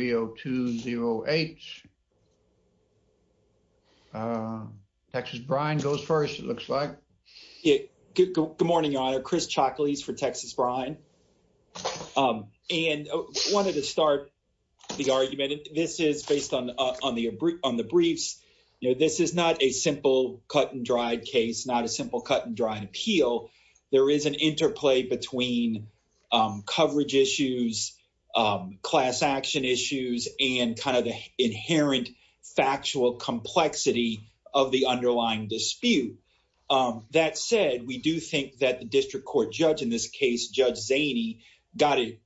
B020H. Texas Brine goes first, it looks like. Good morning, Your Honor. Chris Chaklis for Texas Brine. And I wanted to start the argument. This is based on the briefs. This is not a simple cut-and-dried case, not a simple cut-and-dried appeal. There is an interplay between coverage issues, class action issues, and kind of the inherent factual complexity of the underlying dispute. That said, we do think that the district court judge in this case, Judge Zaney, got it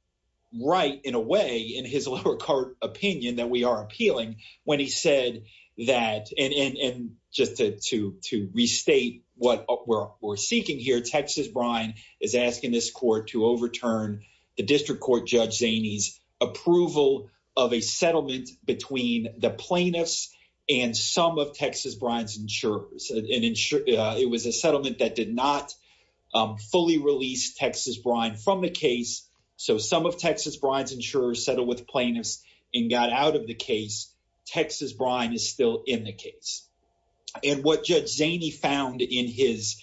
right in a way in his lower court opinion that we are appealing when he said that, and just to restate what we're seeking here, Texas Brine is asking this court to overturn the district court Judge Zaney's approval of a settlement between the plaintiffs and some of Texas Brine's insurers. It was a settlement that did not fully release Texas Brine from the case, so some of Texas Brine's insurers settled with plaintiffs and got out of the case. Texas Brine is still in the case. And what Judge Zaney found in his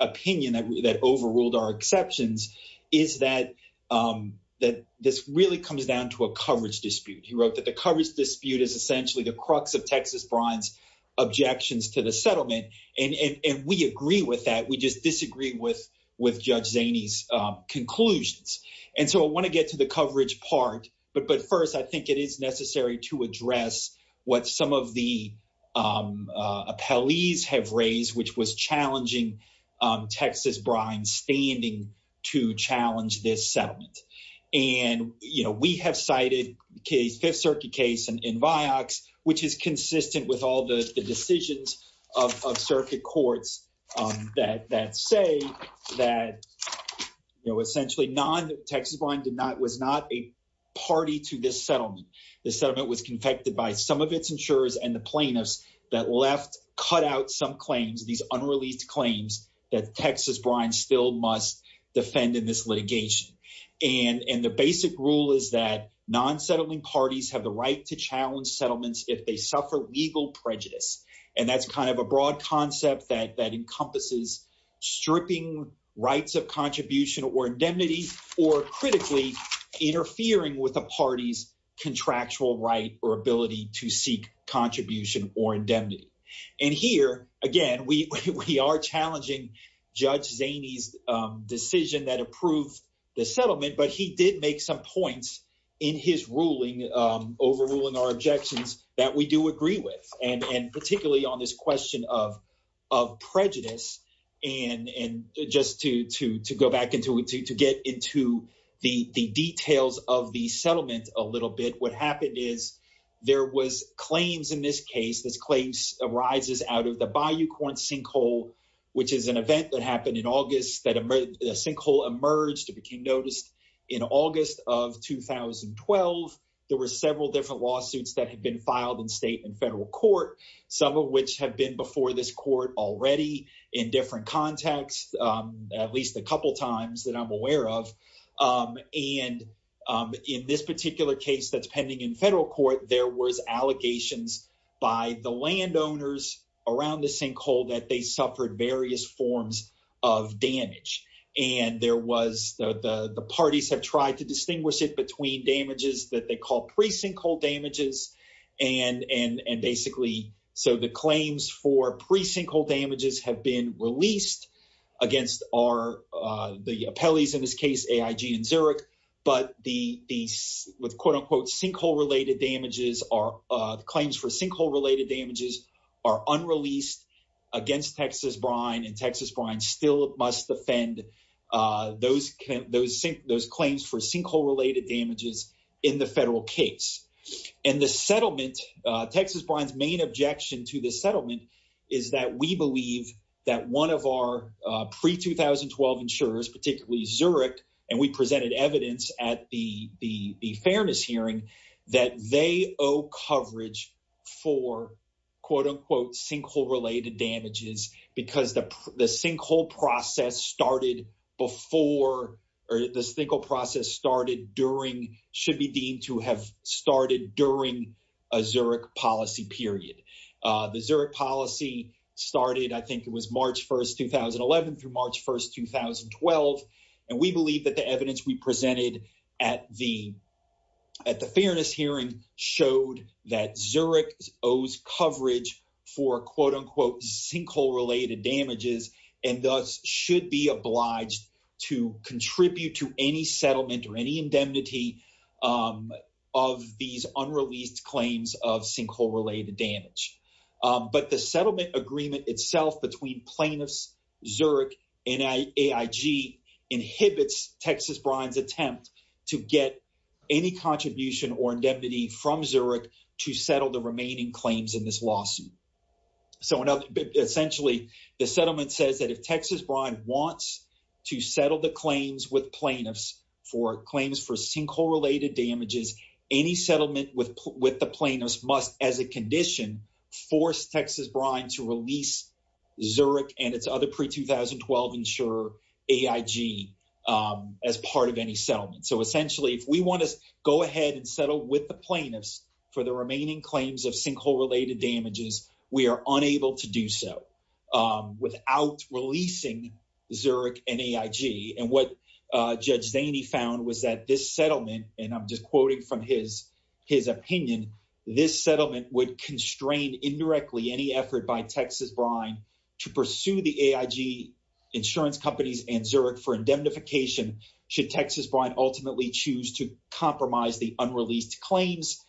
opinion that overruled our exceptions is that this really comes down to a coverage dispute. He wrote that the coverage dispute is essentially the crux of Texas Brine's objections to the settlement, and we agree with that. We just disagree with Judge Zaney's conclusions. And so I want to get to the coverage part, but first I think it is necessary to address what some of the appellees have raised, which was challenging Texas Brine's standing to challenge this settlement. And we have cited a Fifth Circuit case in Vioxx, which is consistent with all the decisions of circuit courts that say that essentially Texas Brine was not a party to this settlement. The settlement was confected by some of its insurers and the plaintiffs that left cut out some claims, these unreleased claims that Texas Brine still must defend in this litigation. And the basic rule is that non-settling parties have the right to challenge settlements if they suffer legal prejudice. And that's kind of a broad concept that encompasses stripping rights of contribution or indemnity, or critically interfering with a party's contractual right or ability to seek contribution or indemnity. And here, again, we are challenging Judge Zaney's decision that approved the settlement, but he did make some points in his ruling, overruling our objections, that we do agree with. And particularly on this question of prejudice. And just to go back into it, to get into the details of the settlement a little bit, what happened is there was claims in this case, this claims arises out of the Bayou Corn sinkhole, which is an event that happened in August, that a sinkhole emerged, it became noticed in August of 2012. There were several different lawsuits that had been filed in state and federal court, some of which have been before this court already in different contexts, at least a couple times that I'm aware of. And in this particular case that's pending in federal court, there was allegations by the landowners around the sinkhole that they suffered various forms of damage. And there was, the parties have tried to distinguish it between damages that they call precinct hole damages. And basically, so the claims for precinct hole damages have been released against the appellees in this case, AIG and Zurich, but these with quote unquote sinkhole related damages are, claims for sinkhole related damages are unreleased against Texas Brine and Texas Brine still must defend those claims for sinkhole related damages in the federal case. And the settlement, Texas Brine's main objection to the settlement is that we believe that one of our pre-2012 insurers, particularly Zurich, and we presented evidence at the fairness hearing that they owe coverage for quote unquote sinkhole related damages because the sinkhole process started before, or the sinkhole process started during, should be deemed to have started during a Zurich policy period. The Zurich policy started, I think it was March 1st, 2011 through March 1st, 2012. And we believe that the evidence we presented at the, at the fairness hearing showed that Zurich owes coverage for quote unquote sinkhole related damages and thus should be obliged to contribute to any settlement or any indemnity of these unreleased claims of sinkhole related damage. But the settlement agreement itself between plaintiffs, Zurich, and AIG inhibits Texas Brine's attempt to get any contribution or indemnity from Zurich to settle the remaining claims in this lawsuit. So in other, essentially the settlement says that if Texas Brine wants to settle the claims with plaintiffs for claims for sinkhole related damages, any settlement with the plaintiffs must, as a condition, force Texas Brine to release Zurich and its other pre-2012 insurer, AIG, as part of any settlement. So essentially, if we want to go ahead and settle with the plaintiffs for the remaining claims of sinkhole related damages, we are unable to do so without releasing Zurich and AIG. And what Judge Zaney found was that this settlement, and I'm just quoting from his, his opinion, this settlement would constrain indirectly any effort by Texas Brine to pursue the AIG insurance companies and Zurich for indemnification should Texas Brine ultimately choose to compromise the unreleased claims.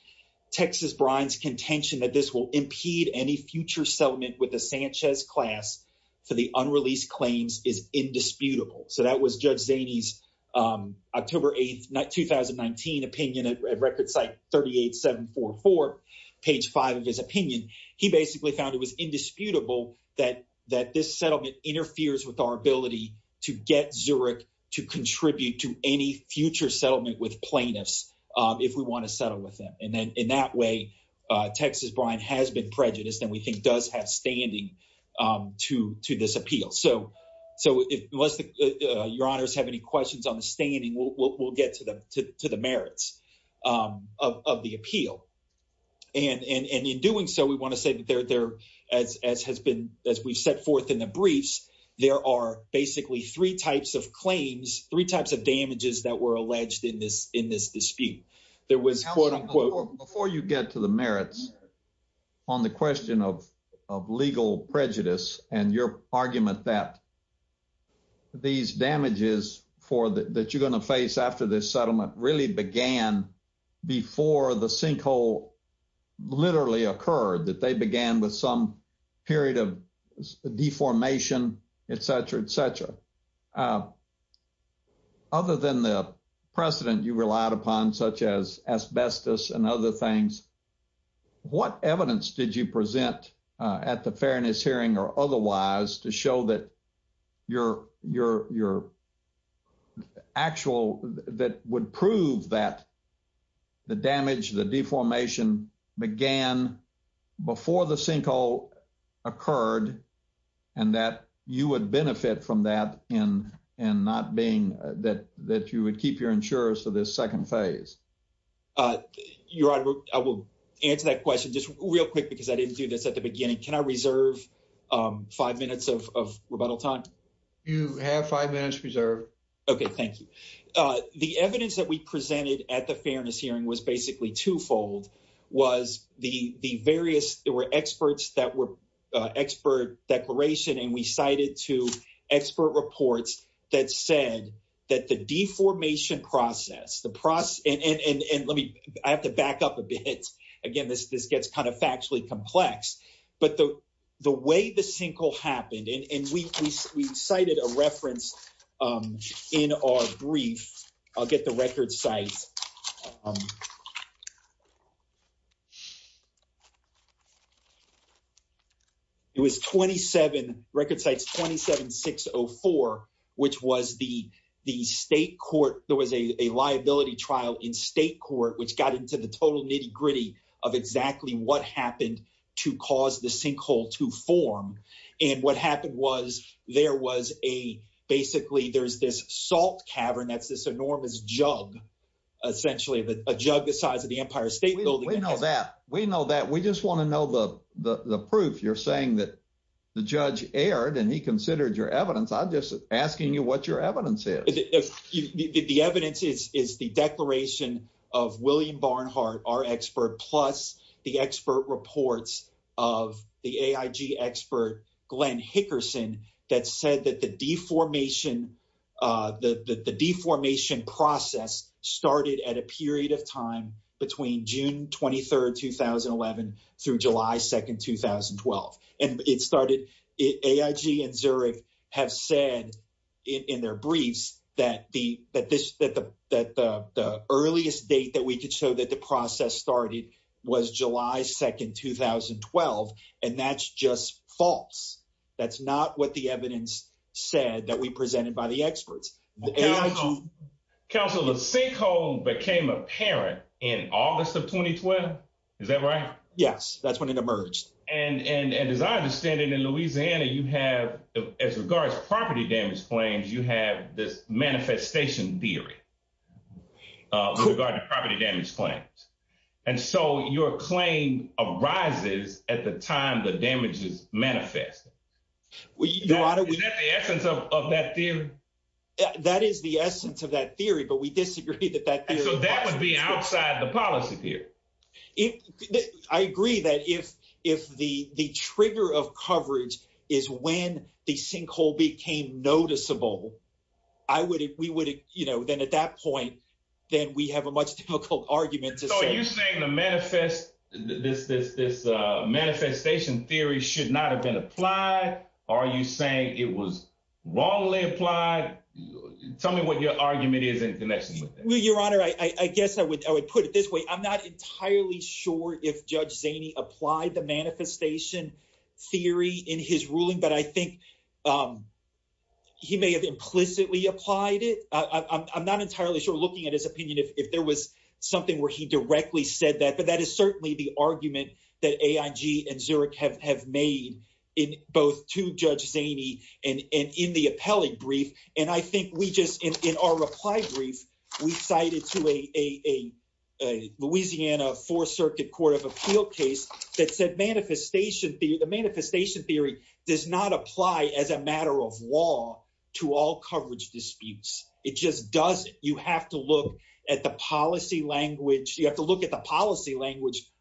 Texas Brine's contention that this will impede any future settlement with the Sanchez class for the unreleased claims is indisputable. So that was Judge Zaney's October 8th, 2019 opinion at record site 38744, page five of his opinion. He basically found it was indisputable that, that this settlement interferes with our ability to get Zurich to contribute to any future settlement with plaintiffs if we want to settle with them. And then in that way, Texas Brine has been prejudiced and we think does have standing to this appeal. So unless your honors have any questions on the standing, we'll get to the merits of the appeal. And in doing so, we want to say that there, as has been, as we've set forth in the briefs, there are basically three types of claims, three types of damages that were alleged in this dispute. There was quote, unquote- on the question of legal prejudice and your argument that these damages for that you're going to face after this settlement really began before the sinkhole literally occurred, that they began with some period of deformation, etc., etc. Other than the precedent you relied upon, such as asbestos and other things, what evidence did you present at the fairness hearing or otherwise to show that your actual, that would prove that the damage, the deformation began before the sinkhole occurred and that you would benefit from that in not being, that you would your insurers for this second phase? Your honor, I will answer that question just real quick because I didn't do this at the beginning. Can I reserve five minutes of rebuttal time? You have five minutes reserved. Okay, thank you. The evidence that we presented at the fairness hearing was basically twofold, was the various, there were experts that were expert declaration and we cited to expert reports that said that the deformation process, and let me, I have to back up a bit. Again, this gets kind of factually complex, but the way the sinkhole happened, and we cited a 27604, which was the state court, there was a liability trial in state court, which got into the total nitty-gritty of exactly what happened to cause the sinkhole to form. And what happened was there was a, basically there's this salt cavern, that's this enormous jug, essentially a jug the size of the Empire State Building. We know that, we know that, we just want to know the proof. You're evidence, I'm just asking you what your evidence is. The evidence is the declaration of William Barnhart, our expert, plus the expert reports of the AIG expert, Glenn Hickerson, that said that the deformation process started at a period of time between June 23rd, 2011 through July 2nd, 2012. And it started, AIG and Zurich have said in their briefs that the earliest date that we could show that the process started was July 2nd, 2012, and that's just false. That's not what the evidence said that we presented by the experts. Counsel, the sinkhole became apparent in August of 2012, is that right? Yes, that's when it emerged. And as I understand it, in Louisiana, you have, as regards property damage claims, you have this manifestation theory with regard to property damage claims. And so, your claim arises at the time the damage is manifested. Is that the essence of that theory? That is the essence of that theory, but we disagree that that theory... So, that would be outside the policy here. I agree that if the trigger of coverage is when the sinkhole became noticeable, then at that point, then we have a much difficult argument to say... So, are you saying the manifestation theory should not have been applied? Are you saying it was wrongly applied? Tell me what your argument is in connection with that. Well, Your Honor, I guess I would put it this way. I'm not entirely sure if Judge Zaney applied the manifestation theory in his ruling, but I think he may have implicitly applied it. I'm not entirely sure, looking at his opinion, if there was something where he directly said that, but that is certainly the argument that AIG and Zurich have made, both to Judge Zaney and in the appellate brief. And I think we just... In our reply brief, we cited to a Louisiana Fourth Circuit Court of Appeal case that said the manifestation theory does not apply as a matter of law to all coverage disputes. It just doesn't. You have to look at the policy language,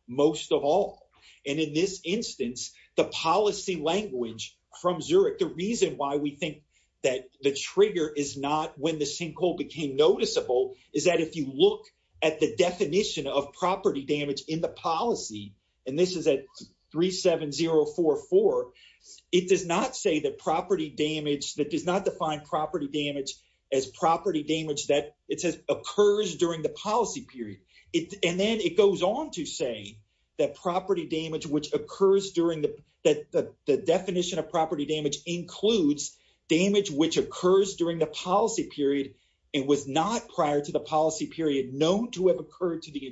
most of all. And in this instance, the policy language from Zurich, the reason why we think that the trigger is not when the sinkhole became noticeable is that if you look at the definition of property damage in the policy, and this is at 37044, it does not say that property damage, that does not define property damage as property damage that it says occurs during the policy period. And then it goes on to say that the definition of property damage includes damage which occurs during the policy period and was not, prior to the policy period, known to have occurred to the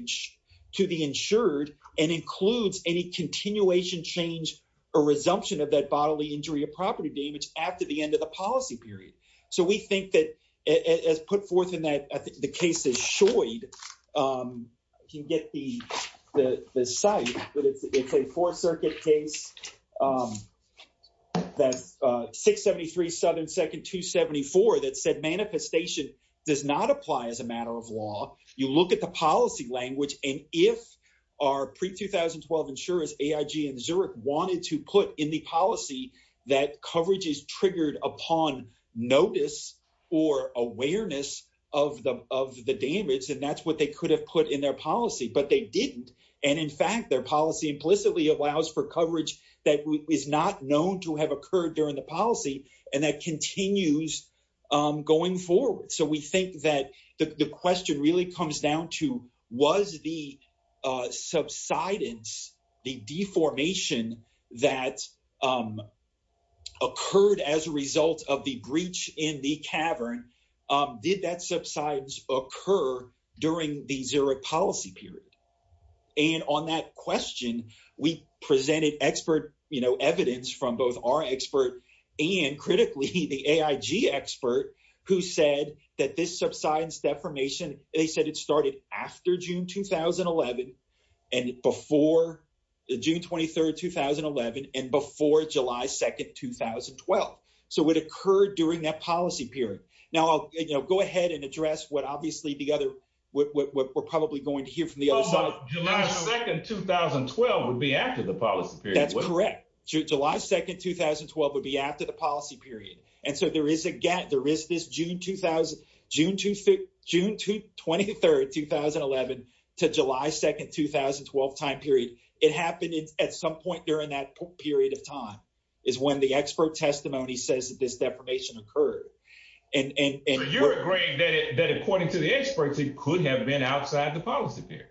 insured and includes any continuation change or resumption of that bodily injury or property damage after the end of the policy period. So we think that, as put forth in that, I think the case is Shoid. You can get the site, but it's a Fourth Circuit case, that's 673 Southern 2nd, 274, that said manifestation does not apply as a matter of law. You look at the policy language, and if our pre-2012 insurers, AIG and Zurich, wanted to put in the policy that coverage is triggered upon notice or awareness of the damage, and that's what they could have put in their policy, but they didn't. And in fact, their policy implicitly allows for coverage that is not known to have occurred during the policy, and that continues going forward. So we think that the question really comes down to, was the subsidence, the deformation that occurred as a result of the breach in the cavern, did that subsidence occur during the Zurich policy period? And on that question, we presented expert evidence from both our expert and critically the AIG expert who said that this subsidence deformation, they said it occurred June 23rd, 2011 and before July 2nd, 2012. So it occurred during that policy period. Now I'll go ahead and address what obviously the other, what we're probably going to hear from the other side. July 2nd, 2012 would be after the policy period. That's correct. July 2nd, 2012 would be after the policy period. And so there is again, there is this June 23rd, 2011 to July 2nd, 2012 time period. It happened at some point during that period of time is when the expert testimony says that this deformation occurred. And- So you're agreeing that according to the experts, it could have been outside the policy period.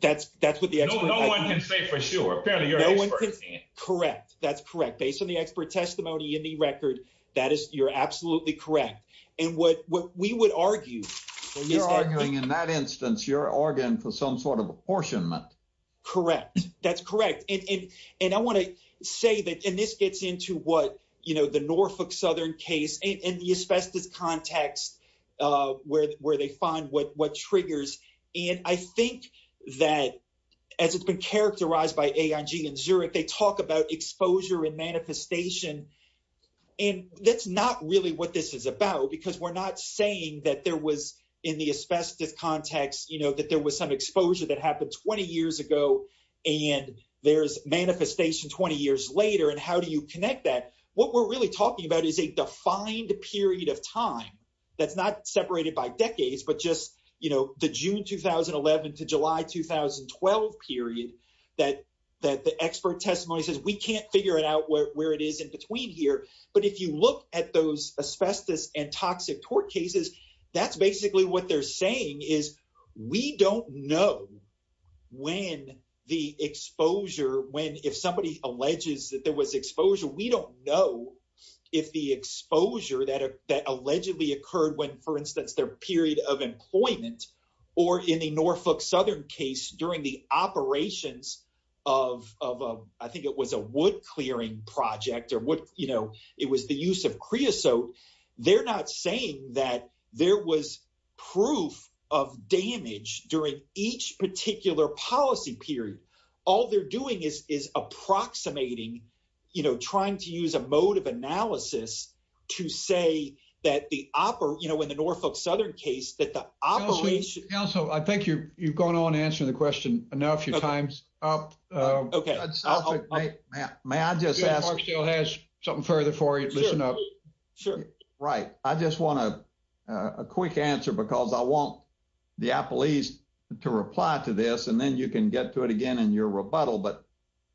That's what the expert- No one can say for sure. Apparently you're an expert. Correct. That's correct. Based on the expert testimony in the record, that is, you're absolutely correct. And what we would argue- You're arguing in that apportionment. Correct. That's correct. And I want to say that, and this gets into what, you know, the Norfolk Southern case and the asbestos context where they find what triggers. And I think that as it's been characterized by AIG and Zurich, they talk about exposure and manifestation. And that's not really what this is about because we're not saying that there was in the asbestos context, you know, that there was some exposure that happened 20 years ago and there's manifestation 20 years later. And how do you connect that? What we're really talking about is a defined period of time. That's not separated by decades, but just, you know, the June, 2011 to July, 2012 period that the expert testimony says, we can't figure it out where it is in between here. But if you look at those asbestos and what they're saying is we don't know when the exposure, when, if somebody alleges that there was exposure, we don't know if the exposure that allegedly occurred when, for instance, their period of employment or in the Norfolk Southern case during the operations of, I think it was a wood clearing project or what, you know, it was the use of creosote. They're not saying that there was proof of damage during each particular policy period. All they're doing is, is approximating, you know, trying to use a mode of analysis to say that the opera, you know, in the Norfolk Southern case that the operation- Counselor, I think you've gone on answering the question enough. Your time's up. Okay. May I just ask- Mark still has something further for you. Listen up. Sure. Right. I just want a quick answer because I want the appellees to reply to this and then you can get to it again in your rebuttal. But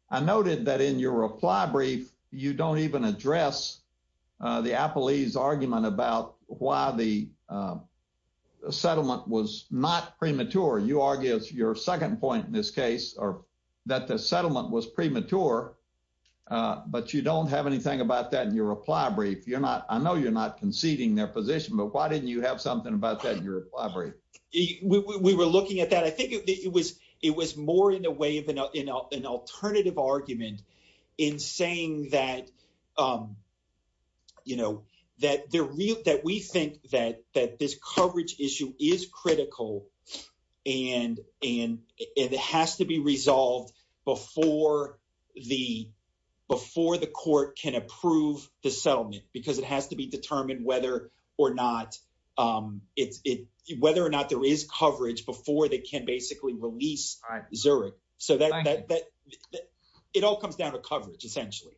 I noted that in your reply brief, you don't even address the appellee's argument about why the settlement was not premature. You argue your second point in this case, or that the settlement was premature, but you don't have anything about that in your reply brief. I know you're not conceding their position, but why didn't you have something about that in your reply brief? We were looking at that. I think it was more in a way of an alternative argument in saying that, you know, that we think that this coverage issue is critical and it has to be resolved before the court can approve the settlement because it has to be determined whether or not there is coverage before they can basically release Zurich. So it all comes down to coverage, essentially.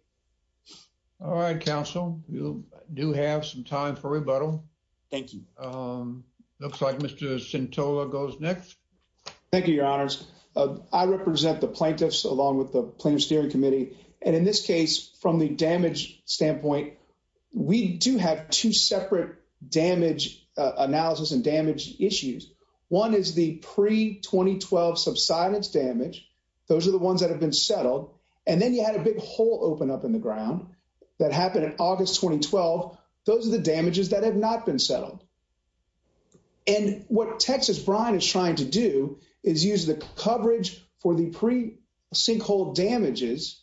All right, Counsel. You do have some time for rebuttal. Thank you. Looks like Mr. Centola goes next. Thank you, Your Honors. I represent the plaintiffs along with the Plaintiff's Steering Committee. And in this case, from the damage standpoint, we do have two separate analysis and damage issues. One is the pre-2012 subsidence damage. Those are the ones that have been settled. And then you had a big hole open up in the ground that happened in August 2012. Those are the damages that have not been settled. And what Texas Brine is trying to do is use the coverage for the pre-sinkhole damages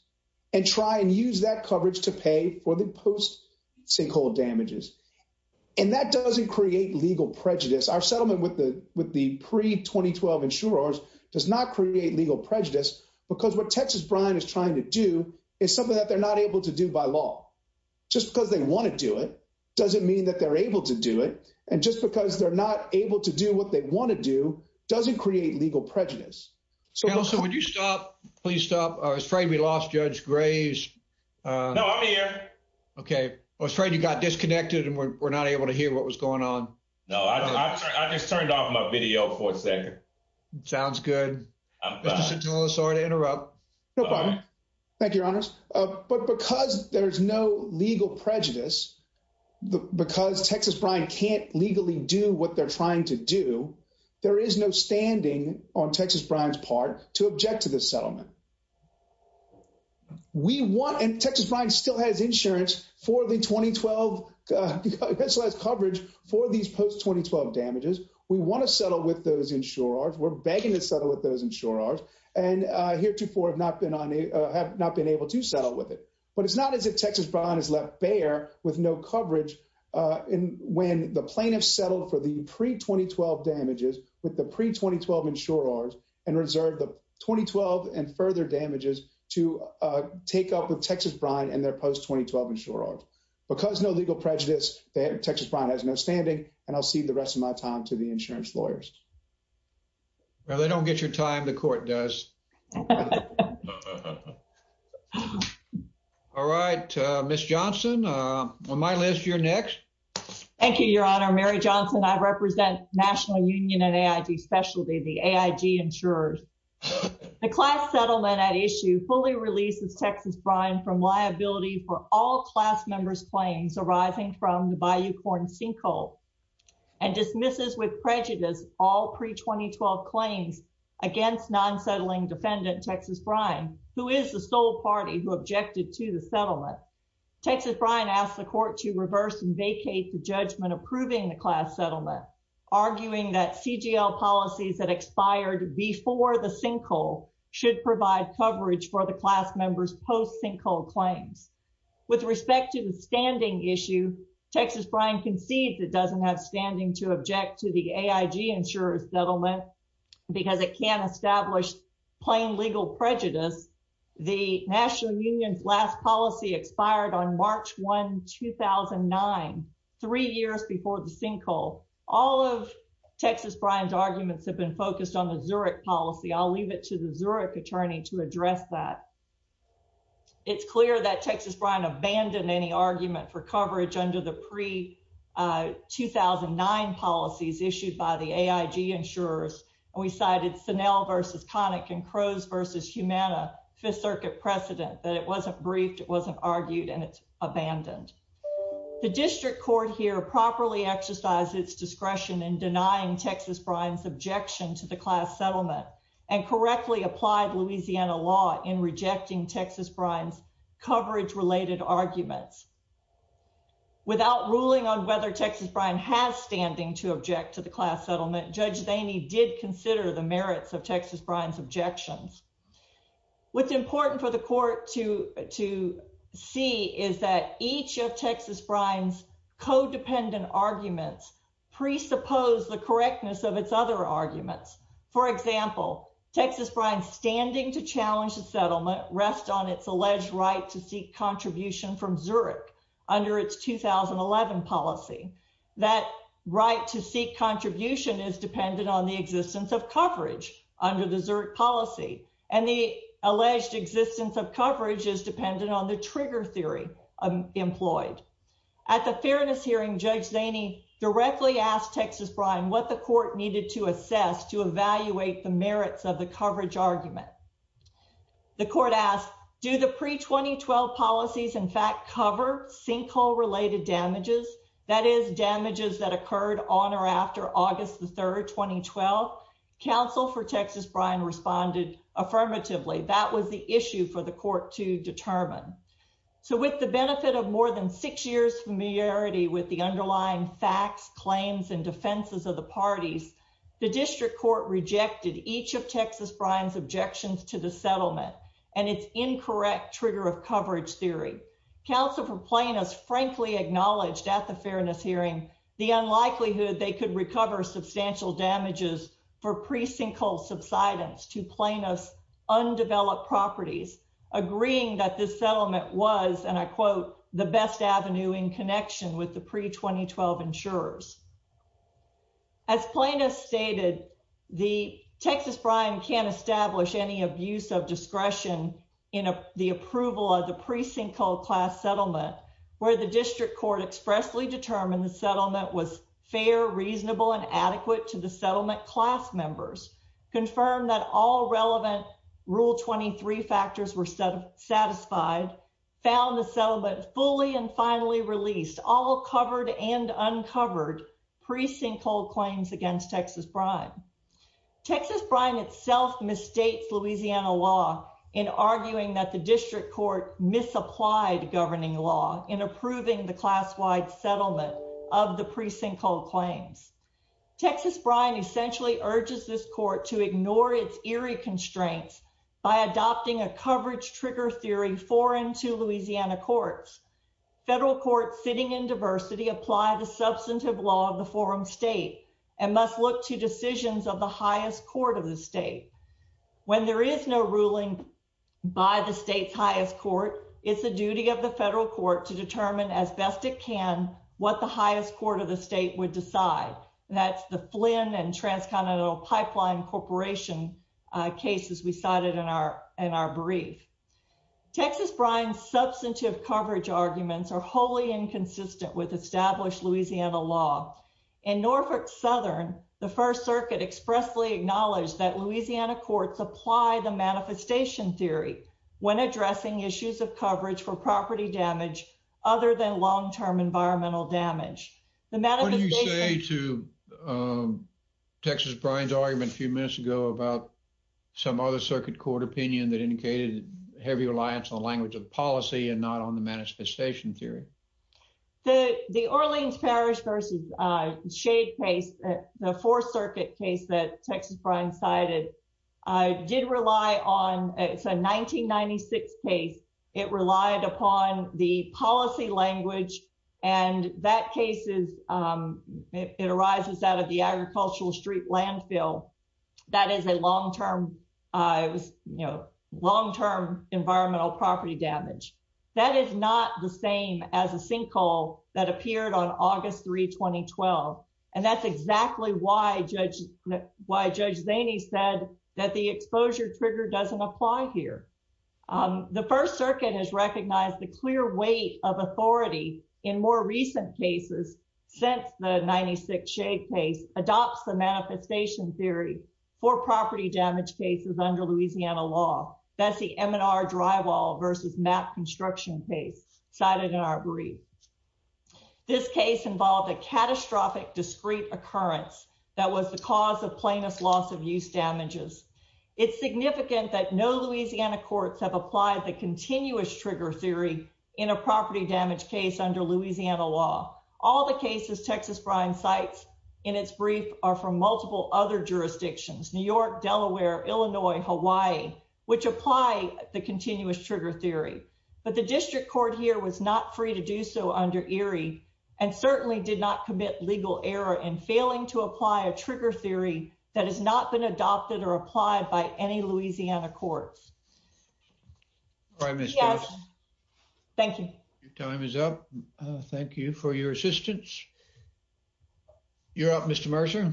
and try and use that coverage to pay for the post-sinkhole damages. And that doesn't create legal prejudice. Our settlement with the pre-2012 insurers does not create legal prejudice because what Texas Brine is trying to do is something that they're not able to do by law. Just because they want to do it doesn't mean that they're able to do it. And just because they're not able to do what they want to do doesn't create legal prejudice. Counsel, would you stop? Please stop. I was afraid we lost Judge Graves. No, I'm here. Okay. I was afraid you got disconnected and we're not able to hear what was going on. No, I just turned off my video for a second. Sounds good. Mr. Centola, sorry to interrupt. No problem. Thank you, Your Honors. But because there's no legal prejudice, because Texas Brine can't legally do what they're trying to do, there is no standing on Texas Brine's part to object to this settlement. We want, and Texas Brine still has insurance for the 2012, it still has coverage for these post-2012 damages. We want to settle with those insurers. We're have not been able to settle with it. But it's not as if Texas Brine is left bare with no coverage when the plaintiffs settled for the pre-2012 damages with the pre-2012 insurers and reserved the 2012 and further damages to take up with Texas Brine and their post-2012 insurers. Because no legal prejudice, Texas Brine has no standing, and I'll cede the rest of my time to the insurance lawyers. Well, they don't get your time, the court does. All right, Ms. Johnson, on my list, you're next. Thank you, Your Honor. Mary Johnson, I represent National Union and AIG Specialty, the AIG insurers. The class settlement at issue fully releases Texas Brine from liability for all class members' claims arising from the Bayou Corn sinkhole and dismisses with prejudice all pre-2012 claims against non-settling defendant, Texas Brine, who is the sole party who objected to the settlement. Texas Brine asked the court to reverse and vacate the judgment approving the class settlement, arguing that CGL policies that expired before the sinkhole should provide coverage for the class members' post-sinkhole claims. With respect to the standing issue, Texas Brine concedes it doesn't have standing to object to the AIG insurer's settlement because it can't establish plain legal prejudice. The National Union's last policy expired on March 1, 2009, three years before the sinkhole. All of Texas Brine's arguments have been focused on the to address that. It's clear that Texas Brine abandoned any argument for coverage under the pre-2009 policies issued by the AIG insurers, and we cited Snell v. Connick and Crows v. Humana, Fifth Circuit precedent, that it wasn't briefed, it wasn't argued, and it's abandoned. The district court here properly exercised its discretion in denying Texas Brine's objection to the class settlement, and correctly applied Louisiana law in rejecting Texas Brine's coverage related arguments. Without ruling on whether Texas Brine has standing to object to the class settlement, Judge Zaney did consider the merits of Texas Brine's objections. What's important for the court to see is that each of Texas Brine's codependent arguments presuppose the correctness of its other arguments. For example, Texas Brine's standing to challenge the settlement rests on its alleged right to seek contribution from Zurich under its 2011 policy. That right to seek contribution is dependent on the existence of coverage under the Zurich policy, and the alleged existence of coverage is dependent on the trigger theory employed. At the fairness hearing, Judge Zaney directly asked Texas Brine what the court needed to assess to evaluate the merits of the coverage argument. The court asked, do the pre-2012 policies in fact cover sinkhole related damages, that is, damages that occurred on or after August the 3rd, 2012? Counsel for Texas Brine responded affirmatively, that was the issue for the court to determine. So with the benefit of more than six years familiarity with the underlying facts, claims, and defenses of the parties, the district court rejected each of Texas Brine's objections to the settlement and its incorrect trigger of coverage theory. Counsel for Plain Us frankly acknowledged at the fairness hearing the unlikelihood they could recover substantial damages for pre-sinkhole subsidence to Plain Us' undeveloped properties, agreeing that this settlement was, and I quote, the best avenue in connection with the pre-2012 insurers. As Plain Us stated, the Texas Brine can't establish any abuse of discretion in the approval of the pre-sinkhole class settlement, where the district court expressly determined the settlement was fair, reasonable, and adequate to settlement class members, confirmed that all relevant Rule 23 factors were satisfied, found the settlement fully and finally released, all covered and uncovered pre-sinkhole claims against Texas Brine. Texas Brine itself misstates Louisiana law in arguing that the district court misapplied governing law in approving the class-wide settlement of the pre-sinkhole claims. Texas Brine essentially urges this court to ignore its eerie constraints by adopting a coverage trigger theory foreign to Louisiana courts. Federal courts sitting in diversity apply the substantive law of the forum state and must look to decisions of the highest court of the state. When there is no ruling by the state's highest court, it's the duty of the federal court to That's the Flynn and Transcontinental Pipeline Corporation cases we cited in our brief. Texas Brine's substantive coverage arguments are wholly inconsistent with established Louisiana law. In Norfolk Southern, the First Circuit expressly acknowledged that Louisiana courts apply the manifestation theory when addressing issues of coverage for property damage other than long-term environmental damage. What did you say to Texas Brine's argument a few minutes ago about some other circuit court opinion that indicated heavy reliance on the language of policy and not on the manifestation theory? The Orleans Parish versus Shade case, the Fourth Circuit case that language and that case is, it arises out of the agricultural street landfill. That is a long-term, it was, you know, long-term environmental property damage. That is not the same as a sinkhole that appeared on August 3, 2012. And that's exactly why Judge Zaney said that the exposure trigger doesn't apply here. The First Circuit has recognized the clear weight of authority in more recent cases since the 96 Shade case adopts the manifestation theory for property damage cases under Louisiana law. That's the M&R drywall versus map construction case cited in our brief. This case involved a catastrophic discrete occurrence that was the plainest loss of use damages. It's significant that no Louisiana courts have applied the continuous trigger theory in a property damage case under Louisiana law. All the cases Texas Brine cites in its brief are from multiple other jurisdictions, New York, Delaware, Illinois, Hawaii, which apply the continuous trigger theory. But the district court here was not free to do so under Erie and certainly did not commit legal error in failing to apply a trigger theory that has not been adopted or applied by any Louisiana courts. All right, Ms. Davis. Yes. Thank you. Your time is up. Thank you for your assistance. You're up, Mr. Mercer.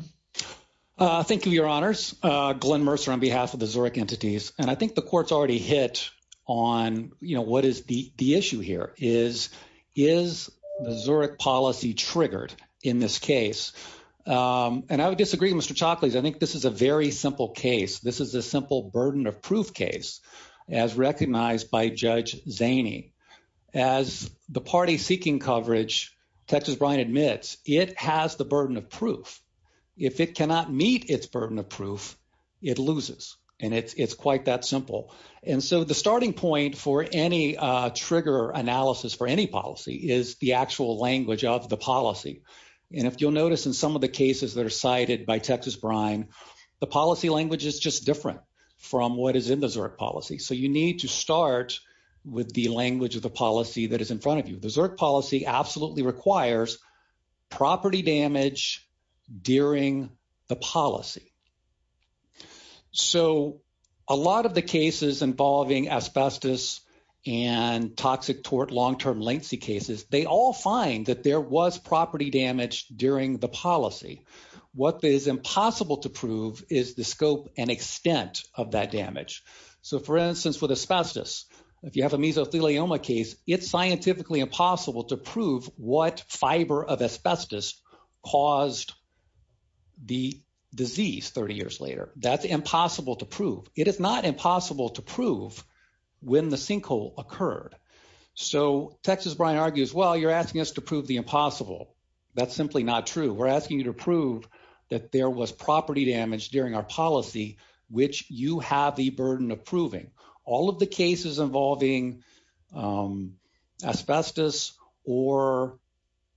Thank you, Your Honors. Glenn Mercer on behalf of the Zurich entities. And I think the court's already hit on, you know, what is the issue here is, is the Zurich policy triggered in this case? And I would disagree, Mr. Chalkley. I think this is a very simple case. This is a simple burden of proof case, as recognized by Judge Zaney. As the party seeking coverage, Texas Brine admits it has the burden of proof. If it cannot meet its burden of proof, it loses. And it's quite that simple. And so the starting point for any trigger analysis for any policy is the actual language of the policy. And if you'll notice in some of the cases that are cited by Texas Brine, the policy language is just different from what is in the Zurich policy. So you need to start with the language of the policy that is in front of you. The Zurich policy absolutely requires property damage during the policy. So a lot of the cases involving asbestos and toxic tort long-term lengthy cases, they all find that there was property damage during the policy. What is impossible to prove is the scope and extent of that damage. So for instance, with asbestos, if you have a mesothelioma case, it's scientifically impossible to prove what fiber of asbestos caused the disease 30 years later. That's impossible to prove. It is not impossible to prove when the sinkhole occurred. So Texas Brine argues, well, you're asking us to prove the impossible. That's simply not true. We're asking you to prove that there was property damage during our policy, which you have the burden of proving. All of the cases involving asbestos or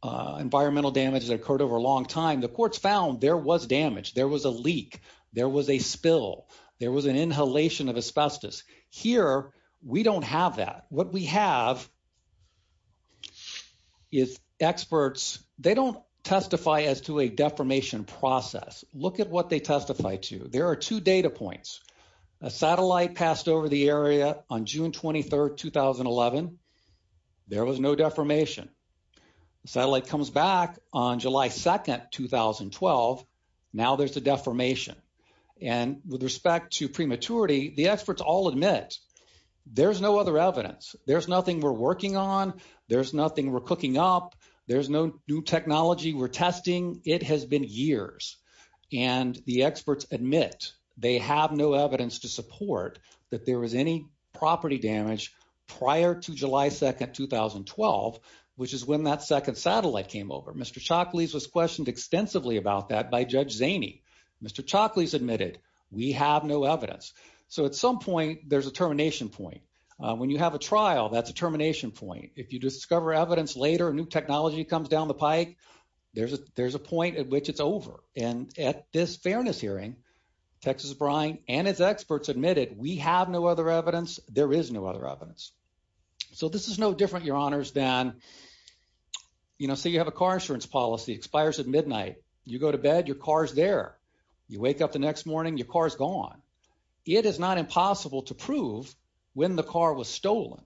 environmental damage that occurred over a long time, the courts found there was damage. There was a leak. There was a spill. There was an inhalation of asbestos. Here, we don't have that. What we have is experts, they don't testify as to a deformation process. Look at what they testify to. There are two data points. A satellite passed over the area on June 23, 2011. There was no deformation. The satellite comes back on July 2, 2012. Now there's a deformation. And with respect to prematurity, the experts all admit there's no other evidence. There's nothing we're working on. There's nothing we're cooking up. There's no new technology we're testing. It has been years. And the experts admit they have no property damage prior to July 2, 2012, which is when that second satellite came over. Mr. Chaklis was questioned extensively about that by Judge Zaney. Mr. Chaklis admitted, we have no evidence. So at some point, there's a termination point. When you have a trial, that's a termination point. If you discover evidence later, a new technology comes down the pike, there's a point at which it's over. And at this fairness hearing, Texas Brine and its experts admitted, we have no other evidence. There is no other evidence. So this is no different, your honors, than, you know, say you have a car insurance policy, expires at midnight. You go to bed, your car's there. You wake up the next morning, your car's gone. It is not impossible to prove when the car was stolen.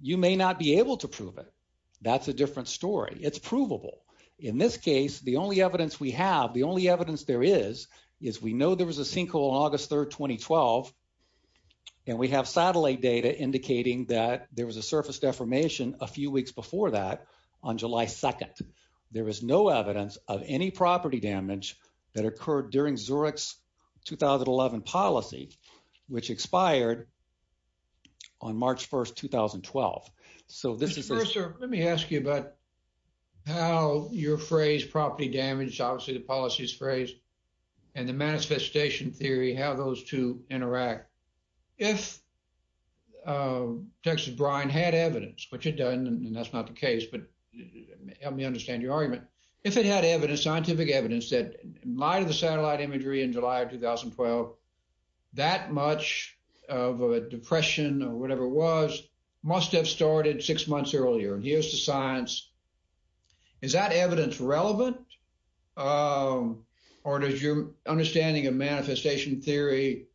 You may not be able to prove it. That's a different story. It's provable. In this case, the only evidence we have, the only evidence there is, is we know there was a sinkhole on August 3rd, 2012. And we have satellite data indicating that there was a surface deformation a few weeks before that on July 2nd. There is no evidence of any property damage that occurred during Zurich's 2011 policy, which expired on March 1st, 2012. So this is- Let me ask you about how your phrase property damage, obviously the policy's phrase, and the manifestation theory, how those two interact. If Texas Brine had evidence, which it doesn't, and that's not the case, but help me understand your argument. If it had evidence, scientific evidence, that in light of the satellite imagery in July of 2012, that much of a depression or whatever it was, must have started six months earlier. And here's the science. Is that evidence relevant? Or does your understanding of manifestation theory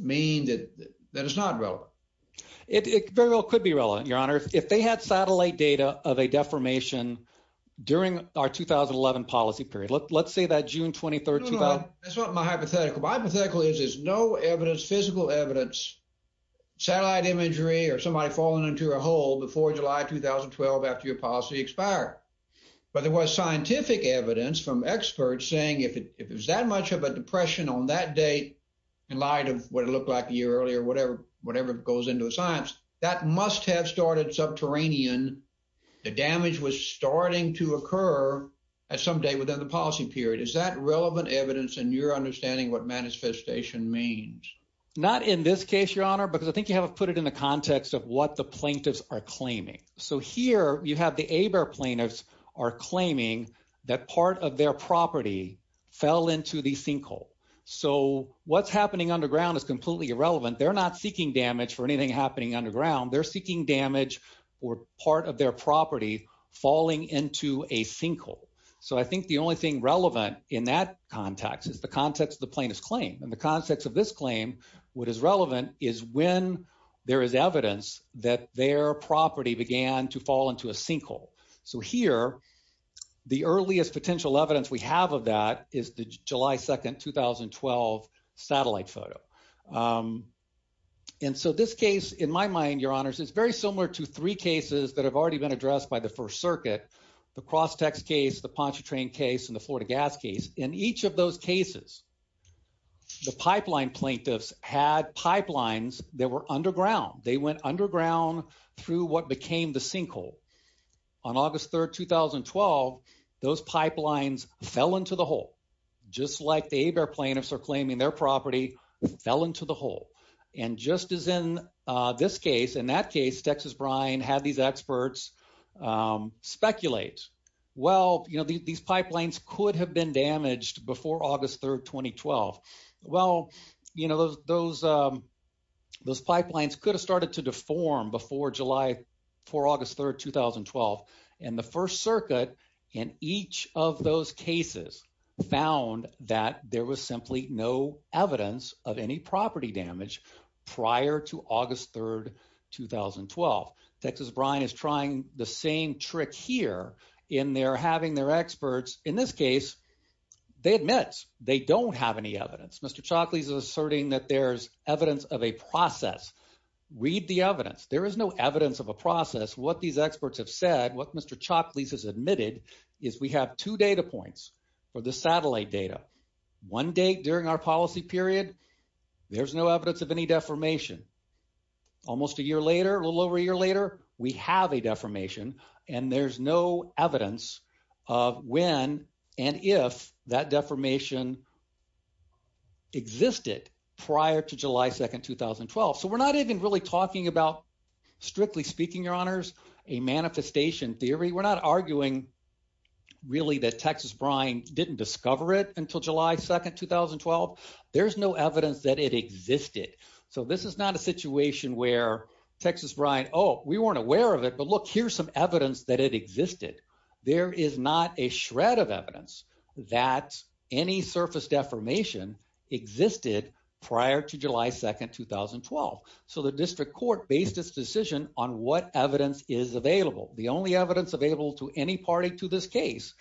mean that it's not relevant? It very well could be relevant, your honor. If they had satellite data of a deformation during our 2011 policy period, let's say that June 23rd, 2012- No, no. That's not my hypothetical. My hypothetical is there's no evidence, physical evidence, satellite imagery or somebody falling into a hole before July 2012 after your policy expired. But there was scientific evidence from experts saying if it was that much of a depression on that date, in light of what it looked like a year earlier, whatever goes into the science, that must have started subterranean. The damage was starting to occur at some day within the policy period. Is that relevant evidence in your understanding what manifestation means? Not in this case, your honor, because I think you haven't put it in the context of what the plaintiffs are claiming. So here you have the ABER plaintiffs are claiming that part of their property fell into the sinkhole. So what's happening underground is completely irrelevant. They're not seeking damage for anything happening underground. They're seeking damage or part of their property falling into a sinkhole. So I think the only thing relevant in that context is the context of the plaintiff's claim. In the context of this claim, what is relevant is when there is evidence that their property began to fall into a sinkhole. So here, the earliest potential evidence we have of that is the July 2nd, 2012 satellite photo. And so this case, in my mind, your honors, is very similar to three cases that have already been addressed by the First Circuit. The Crosstex case, the Pontchartrain case, and the Florida gas case. In each of those cases, the pipeline plaintiffs had pipelines that were underground. They went underground through what became the sinkhole. On August 3rd, 2012, those pipelines fell into the hole, just like the ABER plaintiffs are claiming their property fell into the hole. And just as in this case, in that case, Texas Brine had these experts speculate, well, you know, these pipelines could have been damaged before August 3rd, 2012. Well, you know, those pipelines could have started to deform before July 4th, August 3rd, 2012. And the First Circuit, in each of those cases, found that there was simply no evidence of any property damage prior to August 3rd, 2012. Texas Brine is trying the same trick here in their having their experts, in this case, they admit they don't have any evidence. Mr. Chalkley is asserting that there's evidence of a process. Read the evidence. There is no evidence of a process. What these experts have said, what Mr. Chalkley has admitted, is we have two data points for the satellite data. One date during our policy period, there's no evidence of any deformation. Almost a year later, a little over a year later, we have a deformation, and there's no evidence of when and if that deformation existed prior to July 2nd, 2012. So we're not even really talking about, strictly speaking, your honors, a manifestation theory. We're not arguing really that Texas Brine didn't discover it until July 2nd, 2012. There's no evidence that it existed. So this is not a situation where Texas Brine, oh, we weren't aware of it. But look, here's some evidence that it existed. There is not a shred of evidence that any surface deformation existed prior to July 2nd, 2012. So the district court based its decision on what evidence is available. The only evidence available to any party to this case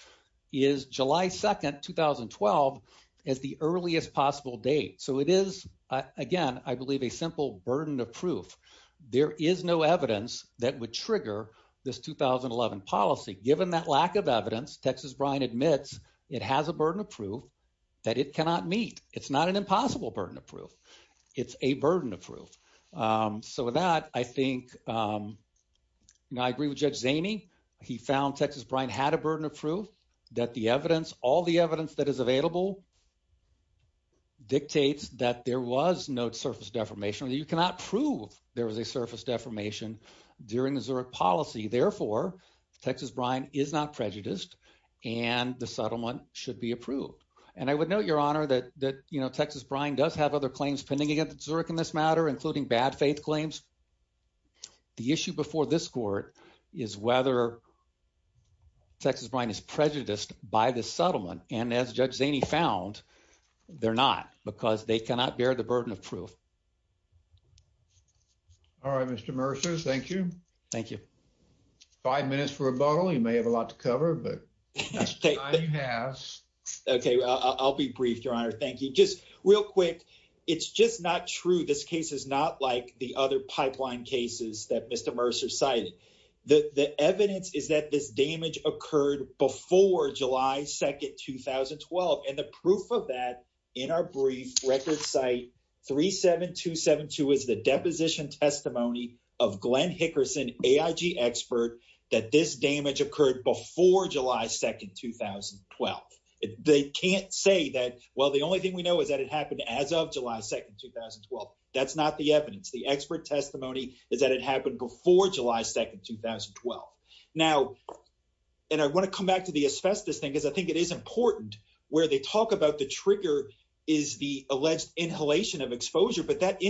is July 2nd, 2012 as the earliest possible date. So it is, again, I believe a simple burden of proof. There is no evidence that would trigger this 2011 policy. Given that lack of evidence, Texas Brine admits it has a burden of proof. It's not an impossible burden of proof. It's a burden of proof. So with that, I think, you know, I agree with Judge Zaney. He found Texas Brine had a burden of proof that the evidence, all the evidence that is available dictates that there was no surface deformation. You cannot prove there was a surface deformation during the Zurich policy. Therefore, Texas Brine is not prejudiced and the settlement should be approved. And I would note, Your Honor, that, you know, Texas Brine does have other claims pending against Zurich in this matter, including bad faith claims. The issue before this court is whether Texas Brine is prejudiced by this settlement. And as Judge Zaney found, they're not because they cannot bear the burden of proof. All right, Mr. Mercers, thank you. Thank you. Five minutes for rebuttal. You may have a lot to cover, but I have. Okay, I'll be brief, Your Honor. Thank you. Just real quick. It's just not true. This case is not like the other pipeline cases that Mr. Mercer cited. The evidence is that this damage occurred before July 2nd, 2012. And the proof of that in our brief record site 37272 is the deposition testimony of Glenn Hickerson, AIG expert, that this damage occurred before July 2nd, 2012. They can't say that, well, the only thing we know is that it happened as of July 2nd, 2012. That's not the evidence. The expert testimony is that it happened before July 2nd, 2012. Now, and I want to come back to the asbestos thing, because I think it is important where they talk about the trigger is the alleged inhalation of exposure, but that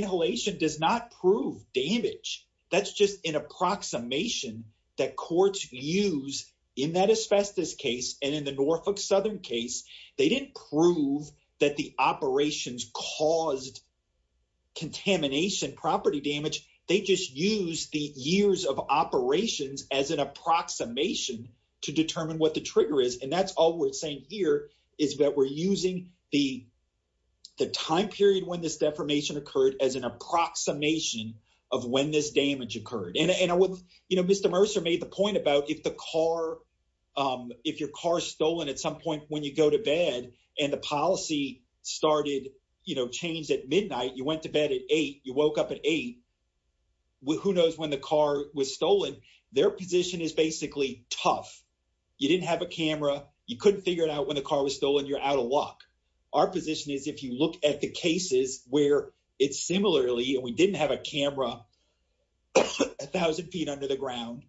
in that asbestos case and in the Norfolk Southern case, they didn't prove that the operations caused contamination, property damage. They just used the years of operations as an approximation to determine what the trigger is. And that's all we're saying here is that we're using the time period when this deformation occurred as an approximation of when this damage occurred. You know, Mr. Mercer made the point about if the car, if your car is stolen at some point when you go to bed and the policy started, you know, changed at midnight, you went to bed at eight, you woke up at eight, who knows when the car was stolen? Their position is basically tough. You didn't have a camera. You couldn't figure it out when the car was stolen. You're out of luck. Our position is if you look at the cases where it's similarly and we didn't have a camera a thousand feet under the ground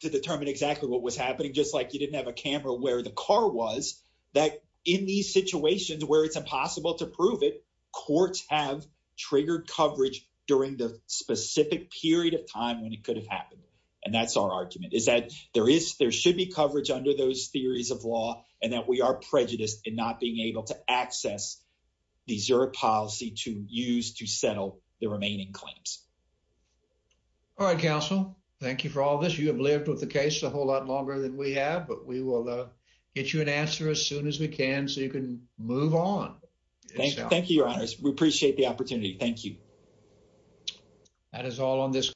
to determine exactly what was happening, just like you didn't have a camera where the car was that in these situations where it's impossible to prove it, courts have triggered coverage during the specific period of time when it could have happened. And that's our argument is that there is, there should be coverage under those theories of law and that we are prejudiced in not being able to access the Zurich policy to use to settle the remaining claims. All right, counsel, thank you for all this. You have lived with the case a whole lot longer than we have, but we will get you an answer as soon as we can so you can move on. Thank you. Thank you, your honors. We appreciate the opportunity. Thank you. That is all on this.